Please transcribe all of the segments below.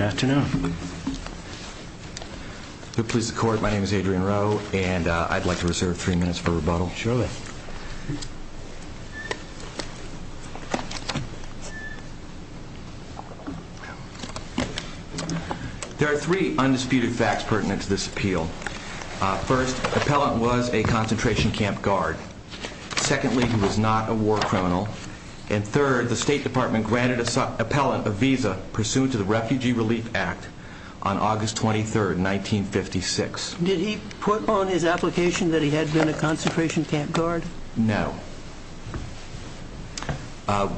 afternoon please the court my name is Adrian Rowe and I'd like to reserve three minutes for rebuttal surely there are three undisputed facts pertinent to this appeal first appellant was a concentration camp guard secondly he was not a war criminal and third the Refugee Relief Act on August 23rd 1956 did he put on his application that he had been a concentration camp guard no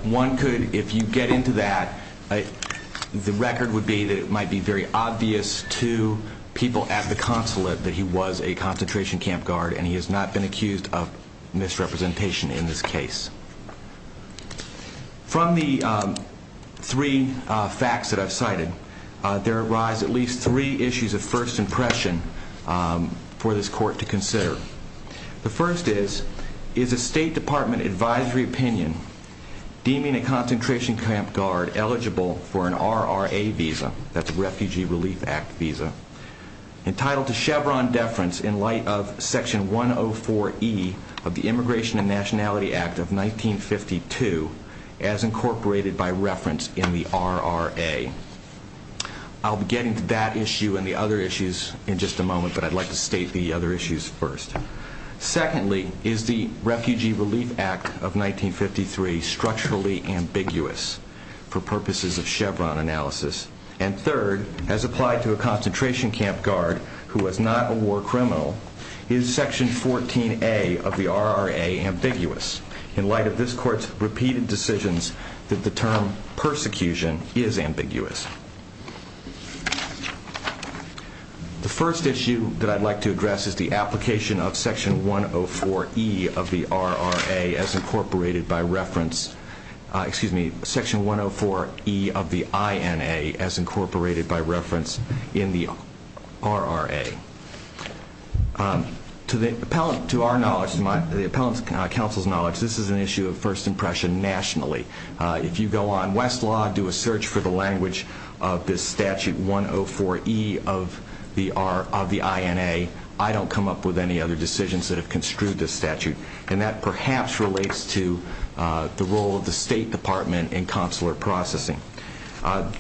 one could if you get into that the record would be that it might be very obvious to people at the consulate that he was a concentration camp guard and he has not been accused of there arise at least three issues of first impression for this court to consider the first is is a State Department advisory opinion deeming a concentration camp guard eligible for an RRA visa that's a Refugee Relief Act visa entitled to Chevron deference in light of section 104 e of the Immigration and Nationality Act of 1952 as incorporated by reference in the RRA I'll be getting to that issue and the other issues in just a moment but I'd like to state the other issues first secondly is the Refugee Relief Act of 1953 structurally ambiguous for purposes of Chevron analysis and third as applied to a concentration camp guard who was not a war criminal is section 14a of the RRA ambiguous in light of this court's repeated decisions that the term persecution is ambiguous the first issue that I'd like to address is the application of section 104 e of the RRA as incorporated by reference excuse me section 104 e of the INA as incorporated by reference in the RRA to the appellate to our knowledge the appellate counsel's knowledge this is an West law do a search for the language of this statute 104 e of the are of the INA I don't come up with any other decisions that have construed this statute and that perhaps relates to the role of the State Department in consular processing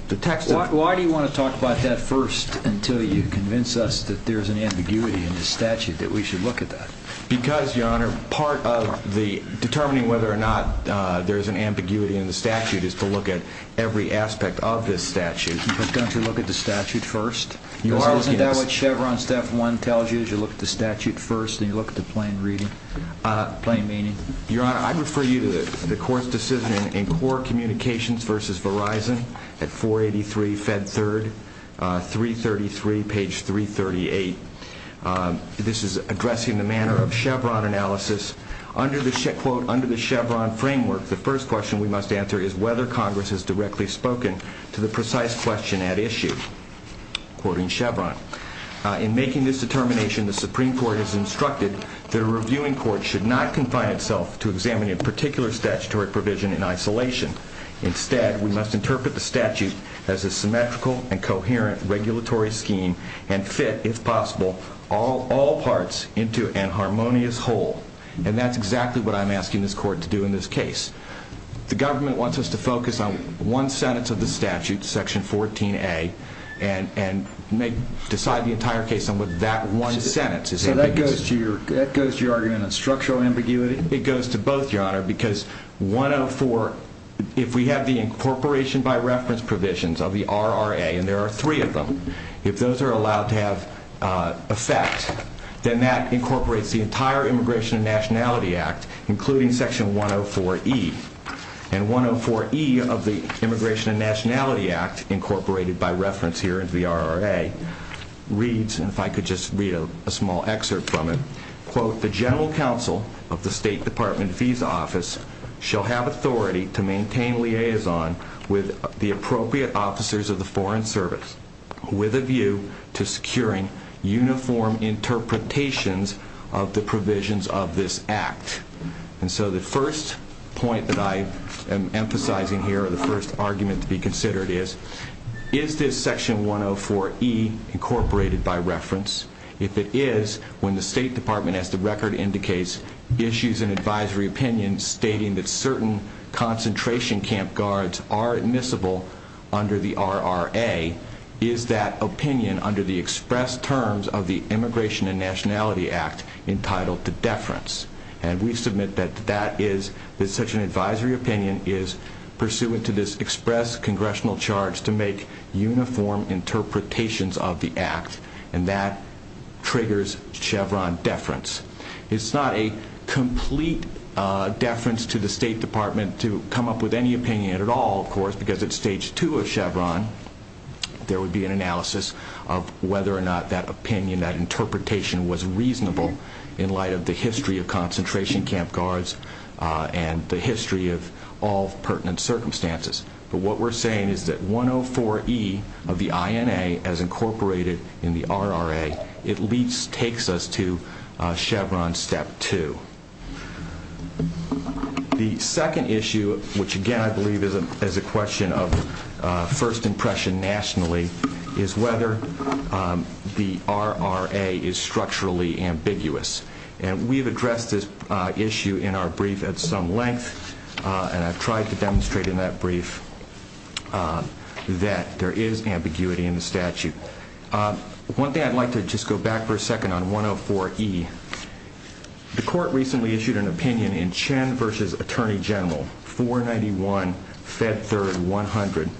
the text why do you want to talk about that first until you convince us that there is an ambiguity in the statute that we should look at that because your honor part of the determining whether or not there is an ambiguity in the statute is to look at every aspect of this statute don't you look at the statute first you are looking at what Chevron step one tells you as you look at the statute first and you look at the plain reading plain meaning your honor I refer you to the court's decision in core communications versus Verizon at 483 fed third 333 page 338 this is addressing the manner of framework the first question we must answer is whether Congress is directly spoken to the precise question at issue in making this determination the Supreme Court has instructed the reviewing court should not confine itself to examine in particular statutory provision in isolation instead we must interpret the statute as a symmetrical and coherent regulatory scheme and fit if possible all all parts into an harmonious whole and that's exactly what I'm asking this court to do in this case the government wants us to focus on one sentence of the statute section 14a and and make decide the entire case on what that one sentence is that goes to your that goes to your argument on structural ambiguity it goes to both your honor because 104 if we have the incorporation by reference provisions of the RRA and there are three of them if those are allowed to have effect then that incorporates the entire immigration and nationality act including section 104 e and 104 e of the immigration and nationality act incorporated by reference here into the RRA reads and if I could just read a small excerpt from it quote the general counsel of the State Department visa office shall have authority to maintain liaison with the appropriate officers of the Foreign Service with a view to securing uniform interpretations of the and so the first point that I am emphasizing here the first argument to be considered is is this section 104 e incorporated by reference if it is when the State Department has the record indicates issues and advisory opinion stating that certain concentration camp guards are admissible under the RRA is that opinion under the express terms of the immigration and nationality act entitled to deference and we submit that that is that such an advisory opinion is pursuant to this express congressional charge to make uniform interpretations of the act and that triggers Chevron deference it's not a complete deference to the State Department to come up with any opinion at all of course because it's stage two of Chevron there would be an analysis of whether or not that opinion that interpretation was reasonable in light of the history of concentration camp guards and the history of all pertinent circumstances but what we're saying is that 104 e of the INA as incorporated in the RRA it leads takes us to Chevron step two the second issue which again I nationally is whether the RRA is structurally ambiguous and we've addressed this issue in our brief at some length and I've tried to demonstrate in that brief that there is ambiguity in the statute one day I'd like to just go back for a second on 104 e the court recently issued an opinion in Chen versus Attorney General 491 fed third 100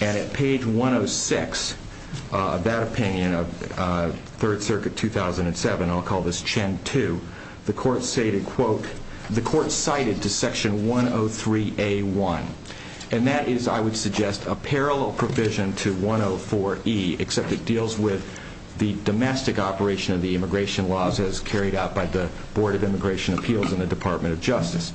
and at page 106 that opinion of Third Circuit 2007 I'll call this Chen to the court stated quote the court cited to section 103 a1 and that is I would suggest a parallel provision to 104 e except it deals with the domestic operation of the immigration laws as carried out by the Board of Immigration Appeals in the Department of Justice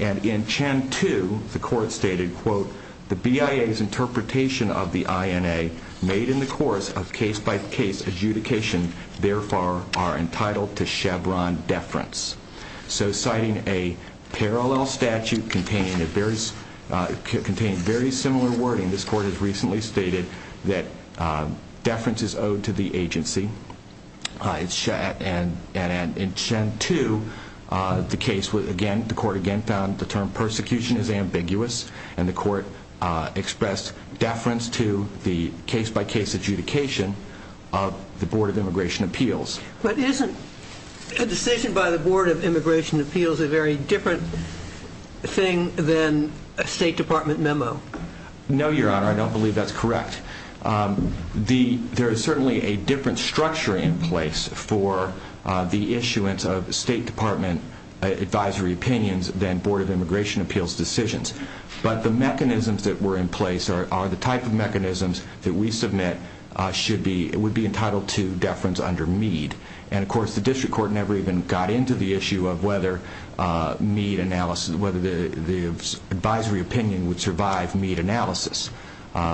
and in Chen to the court stated quote the BIA's interpretation of the INA made in the course of case-by-case adjudication therefore are entitled to Chevron deference so citing a parallel statute containing a various contained very similar wording this court has recently stated that deference is owed to the in Chen to the case was again the court again found the term persecution is ambiguous and the court expressed deference to the case-by-case adjudication of the Board of Immigration Appeals but isn't a decision by the Board of Immigration Appeals a very different thing than a State Department memo no your honor I don't believe that's correct the there is State Department advisory opinions then Board of Immigration Appeals decisions but the mechanisms that were in place are the type of mechanisms that we submit should be it would be entitled to deference under me and of course the district court never even got into the issue of whether need analysis whether the advisory opinion would survive need analysis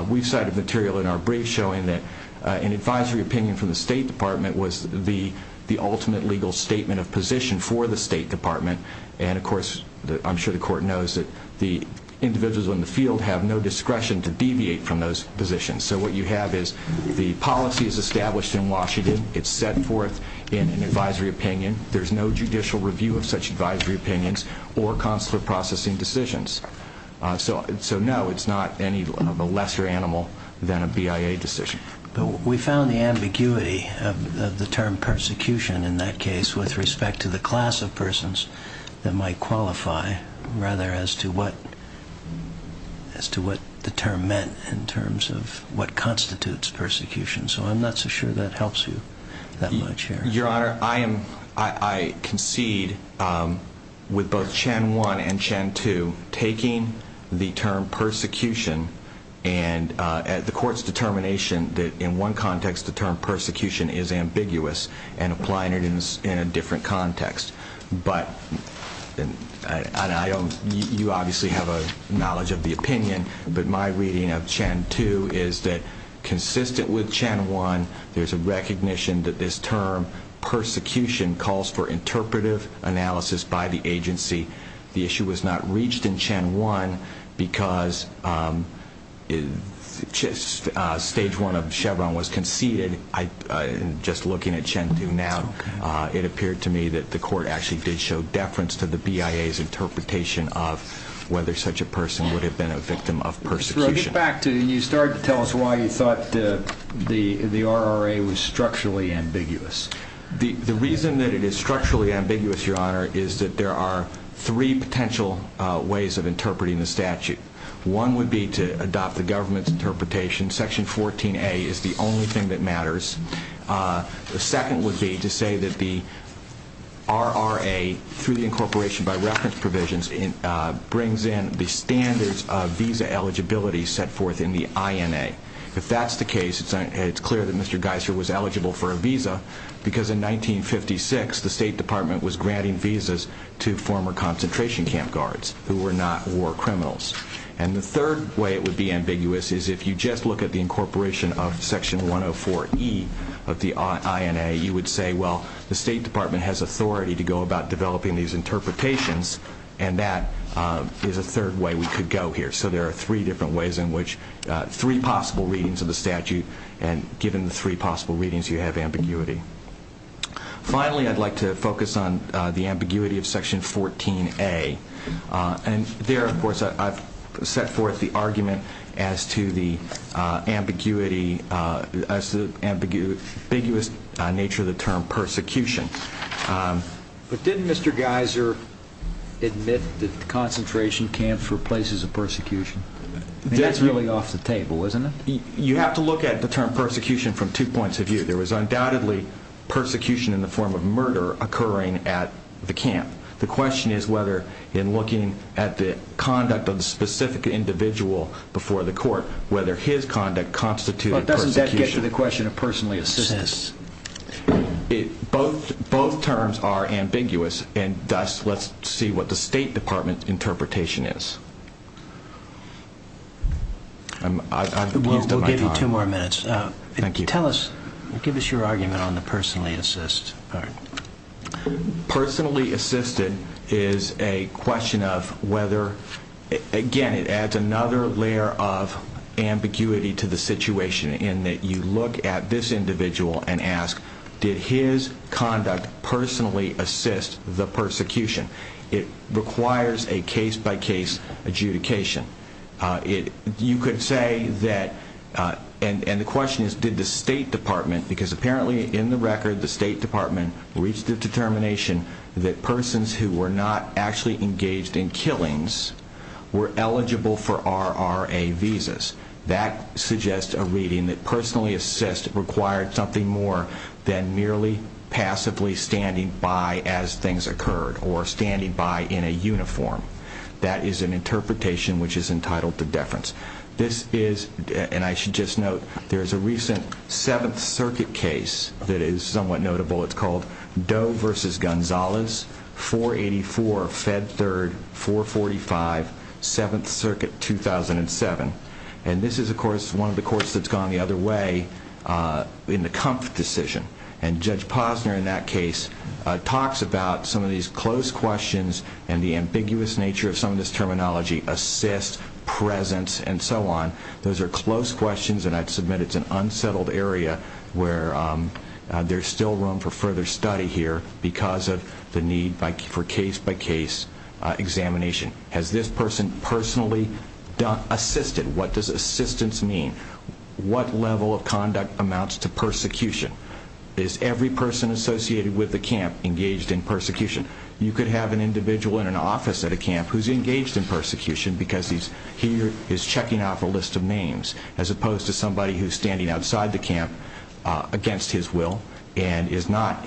we've cited material in our brief showing that an advisory opinion from the State Department was the the second legal statement of position for the State Department and of course I'm sure the court knows that the individuals on the field have no discretion to deviate from those positions so what you have is the policy is established in Washington it's set forth in an advisory opinion there's no judicial review of such advisory opinions or consular processing decisions so so no it's not any of a lesser animal than a BIA decision but we found the ambiguity of the term persecution in that case with respect to the class of persons that might qualify rather as to what as to what the term meant in terms of what constitutes persecution so I'm not so sure that helps you that much your honor I am I concede with both Chen one and Chen two taking the term persecution and at the court's determination that in one context the term persecution is ambiguous and applying it in a different context but then I don't you obviously have a knowledge of the opinion but my reading of Chen two is that consistent with Chen one there's a recognition that this term persecution calls for interpretive analysis by the agency the issue was not reached in Chen one because it's just stage one of interpretation so I conceded I just looking at Chen two now it appeared to me that the court actually did show deference to the BIA's interpretation of whether such a person would have been a victim of persecution back to you started to tell us why you thought the the RRA was structurally ambiguous the reason that it is structurally ambiguous your honor is that there are three potential ways of interpreting the statute one would be to adopt the government's interpretation section 14a is the only thing that matters the second would be to say that the RRA through the incorporation by reference provisions in brings in the standards of visa eligibility set forth in the INA if that's the case it's clear that mr. Geiser was eligible for a visa because in 1956 the State Department was granting visas to former concentration camp guards who were not war criminals and the third way it would be ambiguous is if you just look at the incorporation of section 104e of the INA you would say well the State Department has authority to go about developing these interpretations and that is a third way we could go here so there are three different ways in which three possible readings of the statute and given three possible readings you have ambiguity finally I'd like to focus on the ambiguity of section 14a and there of course I've set forth the argument as to the ambiguity as to the ambiguous nature of the term persecution but didn't mr. Geiser admit that the concentration camp for places of persecution that's really off the table isn't it you have to look at the term persecution from two points of view there was undoubtedly persecution in the form of murder occurring at the camp the question is whether in looking at the conduct of the specific individual before the court whether his conduct constituted doesn't that get to the question of personally assistance it both both terms are ambiguous and thus let's see what the State Department interpretation is I'm I will give you two more minutes thank you tell us give us your argument on the personally assist personally assisted is a question of whether again it adds another layer of ambiguity to the situation in that you look at this individual and ask did his conduct personally assist the persecution it requires a case-by-case adjudication it you could say that and and the question is did the State Department because apparently in the record the State Department reached a determination that persons who were not actually engaged in killings were eligible for RRA visas that suggests a reading that personally assist required something more than merely passively standing by as things occurred or standing by in a uniform that is an interpretation which is entitled to deference this is and I should just note there's a recent Seventh Circuit case that is somewhat notable it's called Doe vs. Gonzalez 484 Fed 3rd 445 Seventh Circuit 2007 and this is of course one of the courts that's gone the other way in the comp decision and Judge Posner in that case talks about some of these close questions and the ambiguous nature of some of this terminology assist presence and so on those are close questions and I submit it's an unsettled area where there's still room for further study here because of the need for case-by-case examination has this person personally done assisted what does assistance mean what level of persecution you could have an individual in an office at a camp who's engaged in persecution because he's here is checking off a list of names as opposed to somebody who's standing outside the camp against his will and is not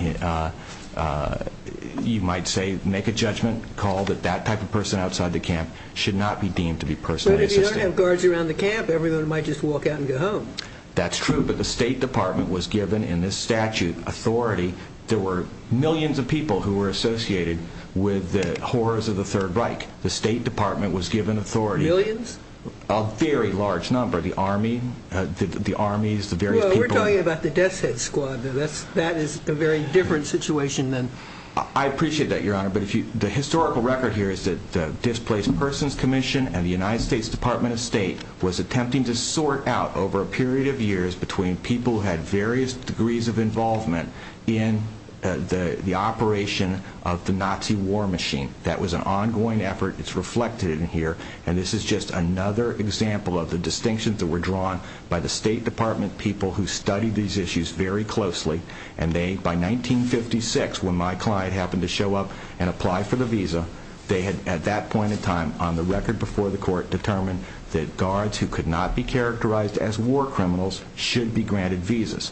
you might say make a judgment call that that type of person outside the camp should not be deemed to be personally assisted. But if you don't have guards around the camp everyone might just walk out and go home. That's true but the State Department was given in this statute authority there were millions of people who were associated with the horrors of the Third Reich. The State Department was given authority. Millions? A very large number the army, the armies, the various people. We're talking about the Deathshead Squad. That is a very different situation than. I appreciate that your honor but if you the historical record here is that the Displaced Persons Commission and the United States Department of State was attempting to sort out over a period of years between people who had various degrees of the operation of the Nazi war machine. That was an ongoing effort. It's reflected in here and this is just another example of the distinctions that were drawn by the State Department people who studied these issues very closely and they by 1956 when my client happened to show up and apply for the visa they had at that point in time on the record before the court determined that guards who could not be characterized as war criminals should be rethinking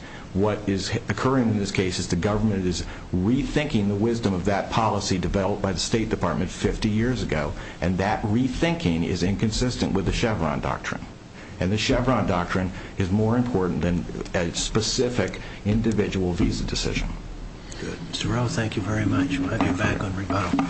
the wisdom of that policy developed by the State Department 50 years ago and that rethinking is inconsistent with the Chevron doctrine and the Chevron doctrine is more important than a specific individual visa decision. Mr. Rowe thank you very much. We'll have you back on rebuttal.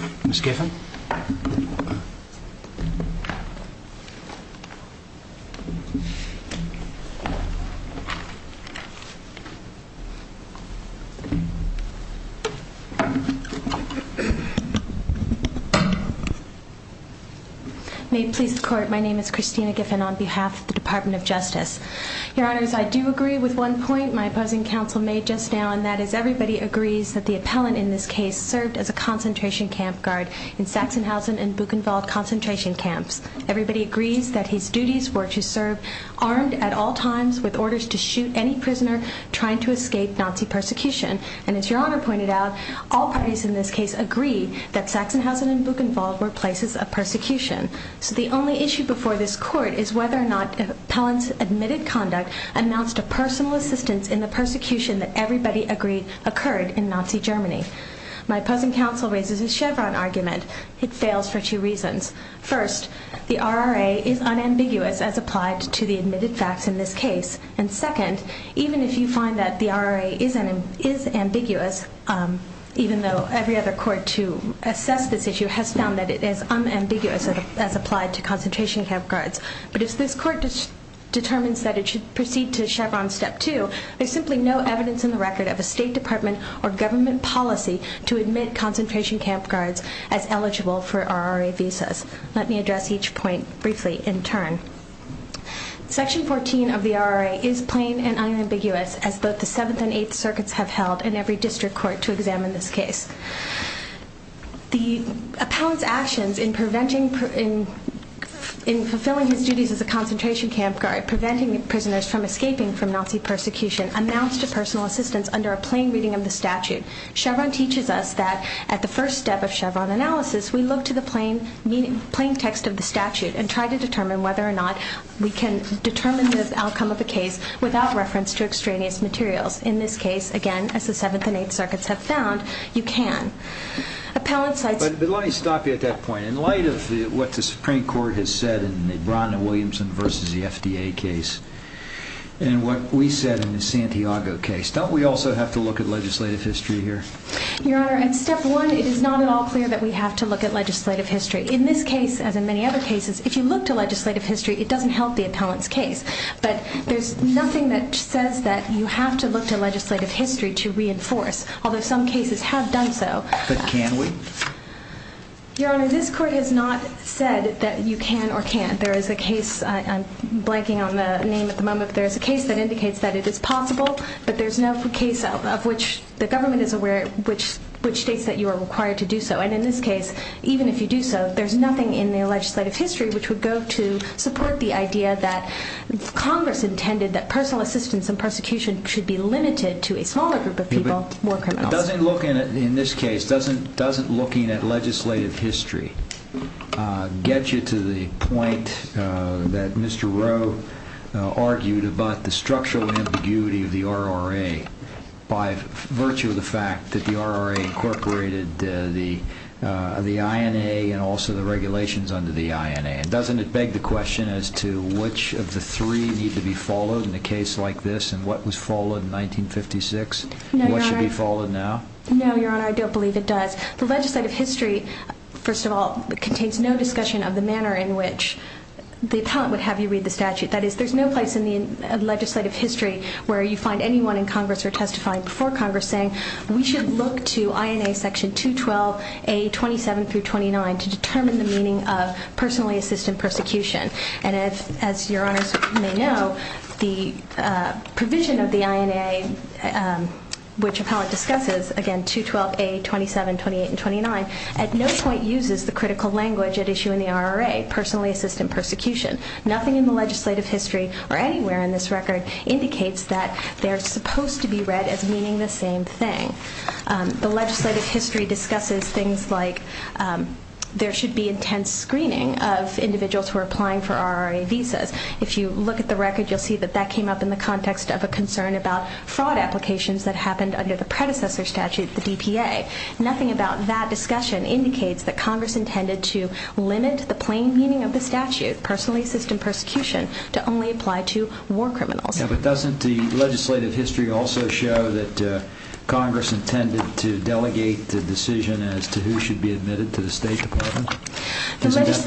May it please the court my name is Christina Giffen on behalf of the Department of Justice. Your honors I do agree with one point my opposing counsel made just now and that is everybody agrees that the appellant in this case served as a concentration camp guard in Sachsenhausen and Buchenwald concentration camps. Everybody agrees that his duties were to serve armed at all times with orders to shoot any prisoner trying to escape Nazi persecution and as your honor pointed out all parties in this case agree that Sachsenhausen and Buchenwald were places of persecution. So the only issue before this court is whether or not appellants admitted conduct announced a personal assistance in the persecution that everybody agreed occurred in Nazi Germany. My opposing counsel raises a Chevron argument. It fails for two reasons. First the RRA is unambiguous as second even if you find that the RRA isn't is ambiguous even though every other court to assess this issue has found that it is unambiguous as applied to concentration camp guards but if this court just determines that it should proceed to Chevron step two there's simply no evidence in the record of a State Department or government policy to admit concentration camp guards as eligible for RRA visas. Let me address each point briefly in turn. Section 14 of plain and unambiguous as both the seventh and eighth circuits have held in every district court to examine this case. The appellant's actions in preventing in fulfilling his duties as a concentration camp guard preventing prisoners from escaping from Nazi persecution announced a personal assistance under a plain reading of the statute. Chevron teaches us that at the first step of Chevron analysis we look to the plain meaning plain text of the statute and try to determine whether or not we can determine the outcome of a case without reference to extraneous materials. In this case again as the seventh and eighth circuits have found you can. Appellant sites... But let me stop you at that point. In light of what the Supreme Court has said in the Brona-Williamson versus the FDA case and what we said in the Santiago case don't we also have to look at legislative history here? Your honor at step one it is not at all clear that we have to look at legislative history. In this case as in many other cases if you look to legislative history it doesn't help the appellant's case but there's nothing that says that you have to look to legislative history to reinforce although some cases have done so. But can we? Your honor this court has not said that you can or can't. There is a case I'm blanking on the name at the moment there's a case that indicates that it is possible but there's no case of which the government is aware which which states that you are required to do so and in this case even if you do so there's nothing in the legislative history which would go to support the idea that Congress intended that personal assistance and persecution should be limited to a smaller group of people. It doesn't look in it in this case doesn't doesn't looking at legislative history get you to the point that Mr. Rowe argued about the structural ambiguity of the RRA by virtue of the fact that the RRA incorporated the the INA and also the regulations under the INA and doesn't it beg the question as to which of the three need to be followed in a case like this and what was followed in 1956 what should be followed now? No your honor I don't believe it does the legislative history first of all it contains no discussion of the manner in which the appellant would have you read the statute that is there's no place in the legislative history where you find anyone in section 212 a 27 through 29 to determine the meaning of personally assistant persecution and as your honor may know the provision of the INA which appellant discusses again 212 a 27 28 and 29 at no point uses the critical language at issue in the RRA personally assistant persecution nothing in the legislative history or anywhere in this record indicates that they're supposed to be read as meaning the same thing the legislative history discusses things like there should be intense screening of individuals who are applying for RRA visas if you look at the record you'll see that that came up in the context of a concern about fraud applications that happened under the predecessor statute the DPA nothing about that discussion indicates that Congress intended to limit the plain meaning of the statute personally assistant persecution to only apply to war criminals doesn't the legislative history also show that Congress intended to delegate the decision as to who should be admitted to the State Department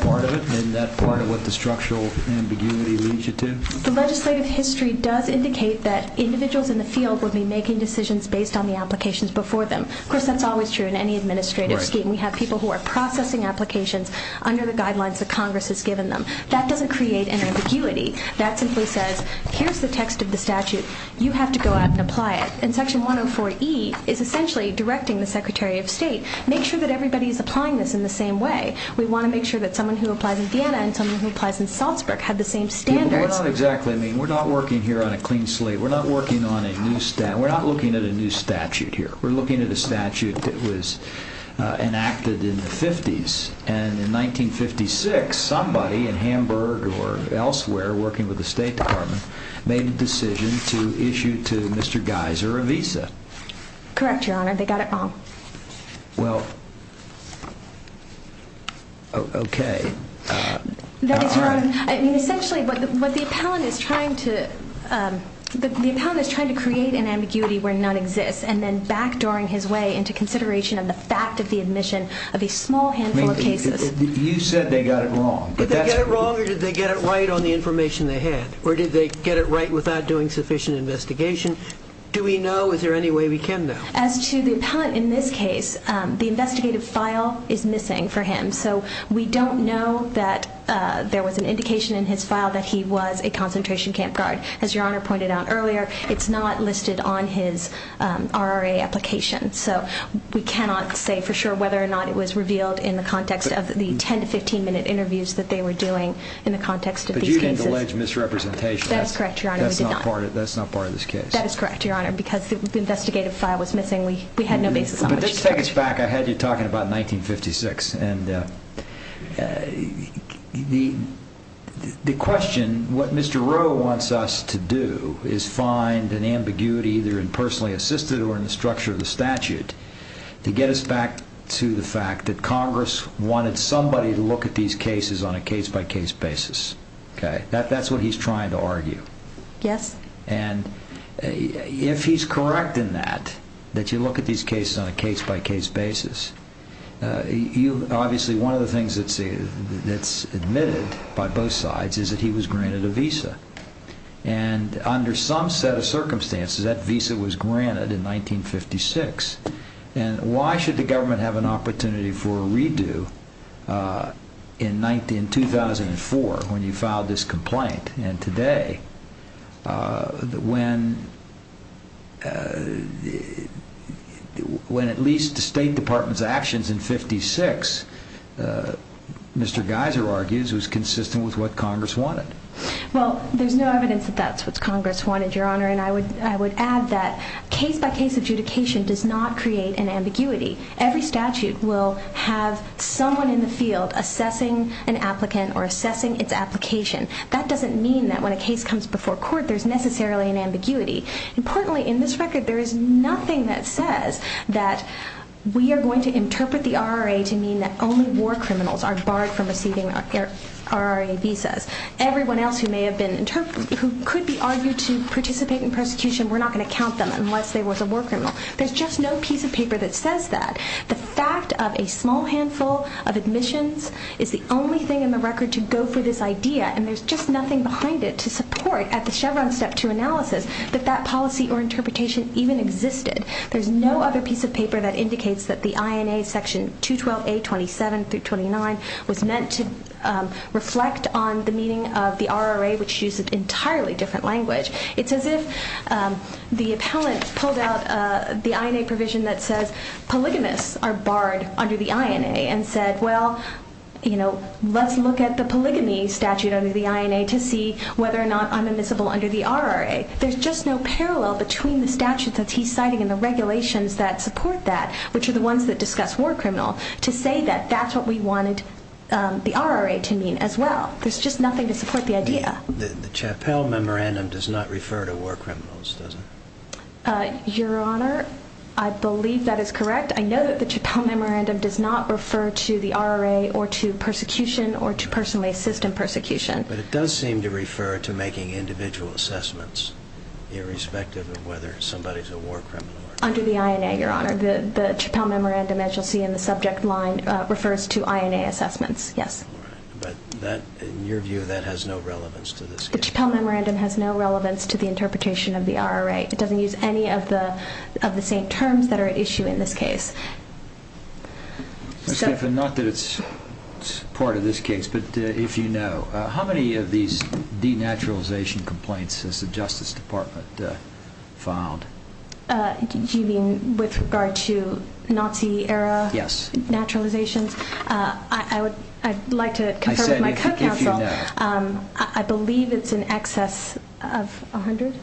part of it in that part of what the structural ambiguity leads you to the legislative history does indicate that individuals in the field will be making decisions based on the applications before them of course that's always true in any administrative scheme we have people who are processing applications under the guidelines of Congress has given them that doesn't create an ambiguity that simply says here's the text of the statute you have to go out and apply it in section 104 E is essentially directing the Secretary of State make sure that everybody is applying this in the same way we want to make sure that someone who applies in Vienna and someone who applies in Salzburg have the same standards we're not working here on a clean slate we're not working on a new statute we're not looking at a new statute here we're looking at a statute that was enacted in the fifties and in 1956 somebody in or elsewhere working with the State Department made a decision to issue to mr. Geiser a visa correct your honor they got it wrong well okay essentially but what the appellant is trying to the pound is trying to create an ambiguity where none exists and then back during his way into consideration of the fact of the admission of a small handful of cases you said they got it wrong or did they get it right on the information they had or did they get it right without doing sufficient investigation do we know is there any way we can know as to the appellant in this case the investigative file is missing for him so we don't know that there was an indication in his file that he was a concentration camp guard as your honor pointed out earlier it's not listed on his RRA application so we cannot say for sure whether or not it was revealed in the context of the 10 to 15 minute interviews that they were doing in the context of misrepresentation that's correct your honor that's not part of that's not part of this case that is correct your honor because the investigative file was missing we we had no basis on this take us back I had you talking about 1956 and the the question what mr. Rowe wants us to do is find an ambiguity either in personally assisted or in the structure of the statute to get us back to the fact that Congress wanted somebody to look at these cases on a case-by-case basis okay that that's what he's trying to argue yes and if he's correct in that that you look at these cases on a case-by-case basis you obviously one of the things that's it's admitted by both sides is that he was granted a visa and under some set of circumstances that visa was granted in 1956 and why should the government have an opportunity for a redo in 19 2004 when you filed this complaint and today when when at least the State Department's actions in 56 mr. Geiser argues was consistent with what Congress wanted well there's no evidence that that's what Congress wanted your honor and I would add that case-by-case adjudication does not create an ambiguity every statute will have someone in the field assessing an applicant or assessing its application that doesn't mean that when a case comes before court there's necessarily an ambiguity importantly in this record there is nothing that says that we are going to interpret the RRA to mean that only war criminals are barred from receiving RRA visas everyone else who may have been who could be argued to participate in persecution we're not going to count them unless they was a war criminal there's just no piece of paper that says that the fact of a small handful of admissions is the only thing in the record to go for this idea and there's just nothing behind it to support at the Chevron step to analysis that that policy or interpretation even existed there's no other piece of paper that indicates that the INA section 212 a 27 through 29 was meant to reflect on the meaning of the RRA which used an entirely different language it's as if the appellant pulled out the INA provision that says polygamists are barred under the INA and said well you know let's look at the polygamy statute under the INA to see whether or not I'm admissible under the RRA there's just no parallel between the statute that he's citing in the regulations that support that which are the ones that discuss war criminal to say that that's what we wanted the RRA to mean as well there's just nothing to support the idea the Chappell memorandum does not refer to war criminals doesn't your honor I believe that is correct I know that the Chappell memorandum does not refer to the RRA or to persecution or to personally assist in persecution but it does seem to refer to making individual assessments irrespective of whether somebody's a war criminal under the INA your honor the the Chappell memorandum as you'll see in the subject line refers to INA assessments yes but in your view that has no relevance to this the Chappell memorandum has no relevance to the interpretation of the RRA it doesn't use any of the of the same terms that are at issue in this case not that it's part of this case but if you know how many of these denaturalization complaints since the Justice Department found you mean with regard to Nazi era yes naturalizations I would I'd like to I believe it's in excess of 100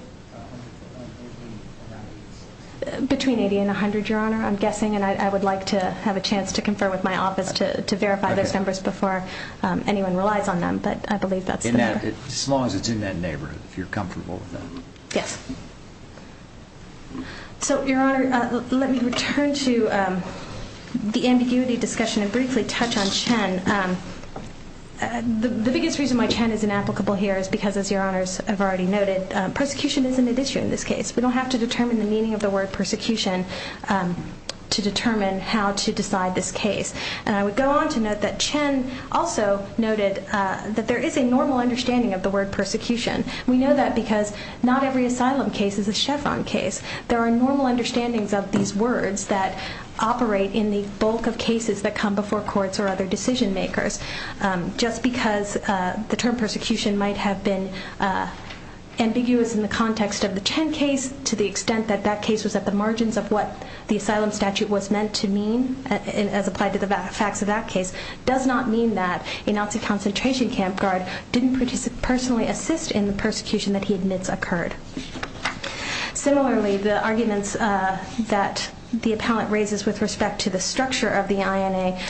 between 80 and 100 your honor I'm guessing and I would like to have a chance to confer with my office to verify those numbers before anyone relies on them but I you're comfortable with them yes so your honor let me return to the ambiguity discussion and briefly touch on Chen the biggest reason why Chen is inapplicable here is because as your honors have already noted persecution isn't an issue in this case we don't have to determine the meaning of the word persecution to determine how to decide this case and I would go on to note that Chen also noted that there is a normal understanding of the word persecution we know that because not every asylum case is a Chevron case there are normal understandings of these words that operate in the bulk of cases that come before courts or other decision-makers just because the term persecution might have been ambiguous in the context of the Chen case to the extent that that case was at the margins of what the asylum statute was meant to mean and as applied to the facts of that case does not mean that a Nazi concentration camp guard didn't participate personally assist in the persecution that he admits occurred similarly the arguments that the appellant raises with respect to the structure of the INA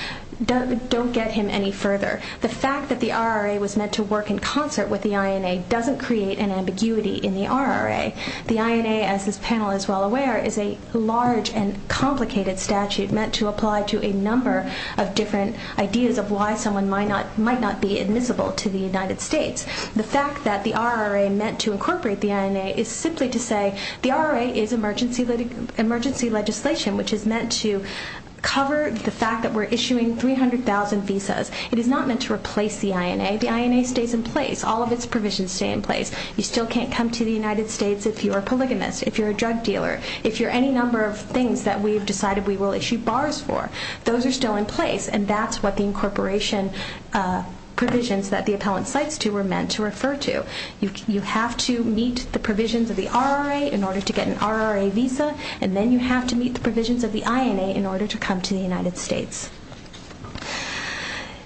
don't get him any further the fact that the RRA was meant to work in concert with the INA doesn't create an ambiguity in the RRA the INA as this panel is well aware is a large and complicated statute meant to apply to a number of different ideas of why someone might not might not be admissible to the United States the fact that the RRA meant to incorporate the INA is simply to say the RRA is emergency litigant emergency legislation which is meant to cover the fact that we're issuing 300,000 visas it is not meant to replace the INA the INA stays in place all of its provisions stay in place you still can't come to the United States if you're a polygamist if you're a drug dealer if you're any number of things that we've decided we will issue bars for those are still in place and that's what the incorporation provisions that the appellant cites to were meant to refer to you have to meet the provisions of the RRA in order to get an RRA visa and then you have to meet the provisions of the INA in order to come to the United States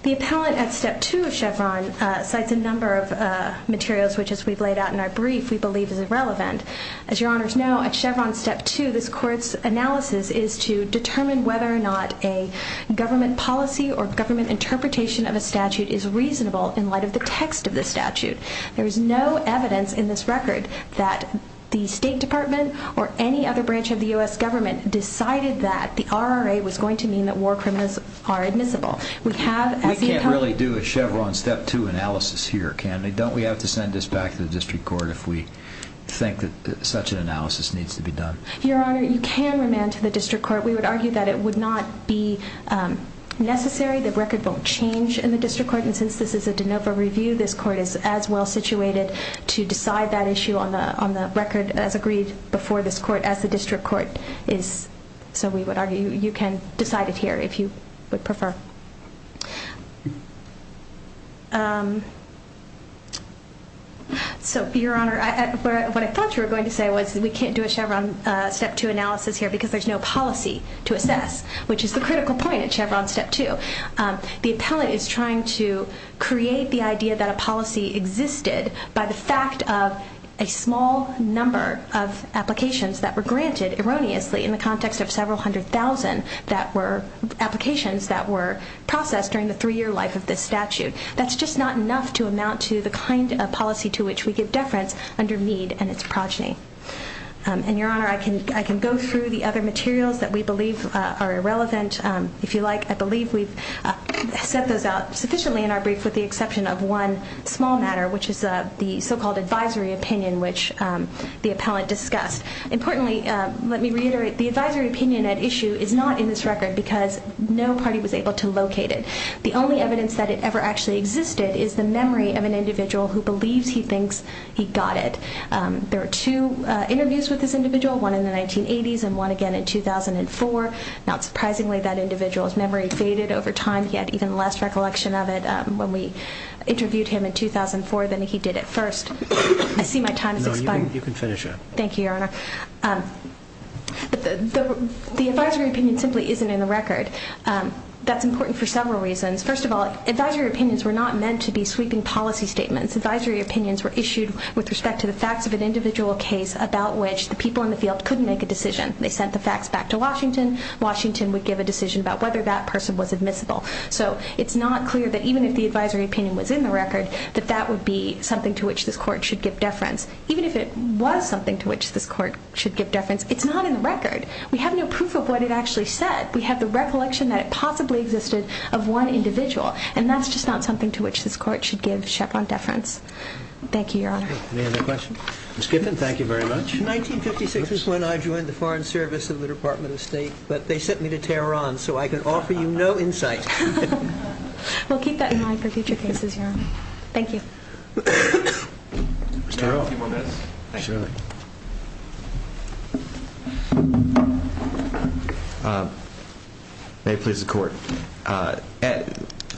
the appellant at step 2 of Chevron cites a number of materials which as we've laid out in our brief we believe is irrelevant as your honors know at Chevron step 2 this court's analysis is to determine whether or not a government policy or government interpretation of a statute is reasonable in light of the text of the statute there is no evidence in this record that the State Department or any other branch of the US government decided that the RRA was going to mean that war criminals are admissible we can't really do a Chevron step 2 analysis here can they don't we have to send this back to the district court if we think that such an analysis needs to be done your honor you can remand to the district court we would argue that it would not be necessary the record won't change in the district court and since this is a de novo review this court is as well situated to decide that issue on the on the record as agreed before this court as the district court is so we would argue you can decide it here if you would prefer so your honor what I thought you were going to say was we there's no policy to assess which is the critical point at Chevron step 2 the appellate is trying to create the idea that a policy existed by the fact of a small number of applications that were granted erroneously in the context of several hundred thousand that were applications that were processed during the three-year life of this statute that's just not enough to amount to the kind of policy to which we give deference under mead and its progeny and your honor I can I can go through the other materials that we believe are irrelevant if you like I believe we've set those out sufficiently in our brief with the exception of one small matter which is a the so-called advisory opinion which the appellate discussed importantly let me reiterate the advisory opinion at issue is not in this record because no party was able to locate it the only evidence that it ever actually existed is the memory of an individual who believes he thinks he got it there are two interviews with this individual one in the 1980s and one again in 2004 not surprisingly that individual's memory faded over time he had even less recollection of it when we interviewed him in 2004 than he did at first I see my time you can finish it thank you your honor the advisory opinion simply isn't in the record that's important for several reasons first of all advisory opinions were not meant to be sweeping policy statements advisory opinions were issued with the people in the field couldn't make a decision they sent the facts back to Washington Washington would give a decision about whether that person was admissible so it's not clear that even if the advisory opinion was in the record that that would be something to which this court should give deference even if it was something to which this court should give deference it's not in the record we have no proof of what it actually said we have the recollection that it possibly existed of one individual and that's just not something to which this court should give Chevron deference thank you your 56 is when I joined the Foreign Service of the Department of State but they sent me to Tehran so I can offer you no insight we'll keep that in mind for future cases here thank you may please the court and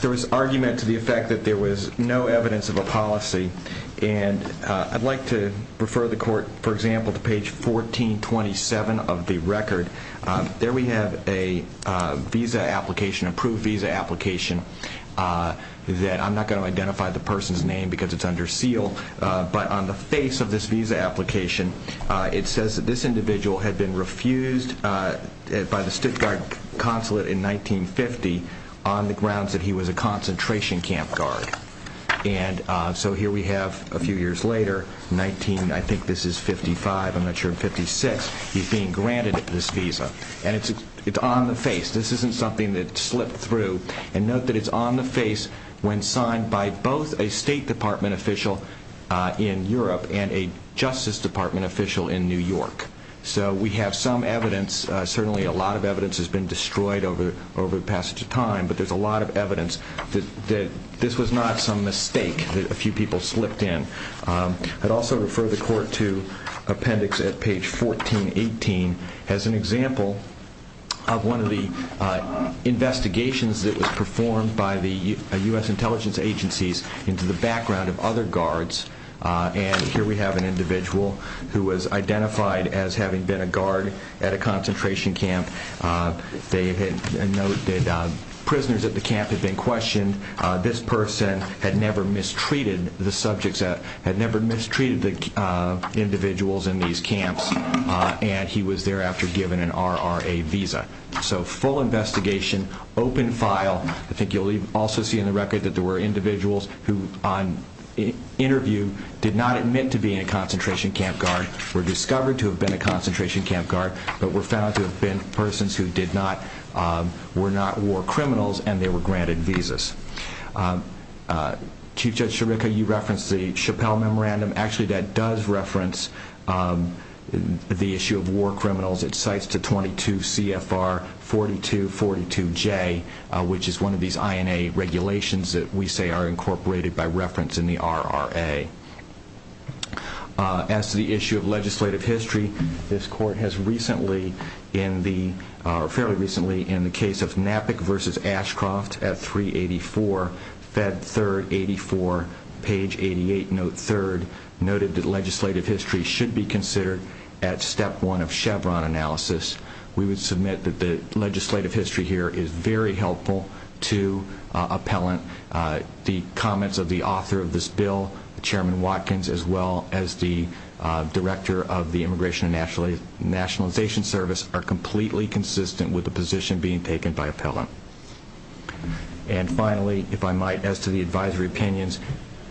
there was argument to the effect that there was no the court for example to page 1427 of the record there we have a visa application approved visa application that I'm not going to identify the person's name because it's under seal but on the face of this visa application it says that this individual had been refused by the Stuttgart consulate in 1950 on the grounds that he was a concentration camp guard and so here we have a few years later 19 I think this is 55 I'm not sure 56 he's being granted this visa and it's it's on the face this isn't something that slipped through and note that it's on the face when signed by both a State Department official in Europe and a Justice Department official in New York so we have some evidence certainly a lot of evidence has been destroyed over over the passage of time but there's a lot of evidence that this was not some mistake that a few people slipped in I'd also refer the court to appendix at page 1418 as an example of one of the investigations that was performed by the US intelligence agencies into the background of other guards and here we have an individual who was identified as having been a guard at a concentration camp they had noted prisoners at the camp had been questioned this person had never mistreated the subjects that had never mistreated the individuals in these camps and he was thereafter given an RRA visa so full investigation open file I think you'll also see in the record that there were individuals who on interview did not admit to being a concentration camp guard were discovered to have been a concentration camp guard but were found to have been persons who did not were not war criminals and they were granted visas. Chief Judge Chirica you referenced the Chappell memorandum actually that does reference the issue of war criminals it cites to 22 CFR 4242 J which is one of these INA regulations that we say are incorporated by reference in the RRA. As to the issue of fairly recently in the case of NAPIC versus Ashcroft at 384 Fed 3rd 84 page 88 note 3rd noted that legislative history should be considered at step 1 of Chevron analysis we would submit that the legislative history here is very helpful to appellant the comments of the author of this bill chairman Watkins as well as the director of the immigration and nationalization service are completely consistent with the position being taken by appellant and finally if I might as to the advisory opinions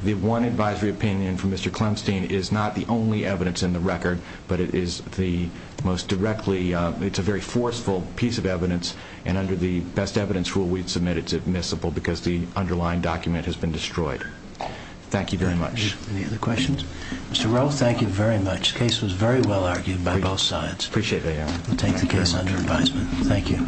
the one advisory opinion for Mr. Clemson is not the only evidence in the record but it is the most directly it's a very forceful piece of evidence and under the best evidence rule we submitted admissible because the underlying document has been destroyed thank you very much. Any other questions? Mr. Rowe thank you very much case was very well argued by both sides. Appreciate it Aaron. We'll take the case under advisement. Thank you.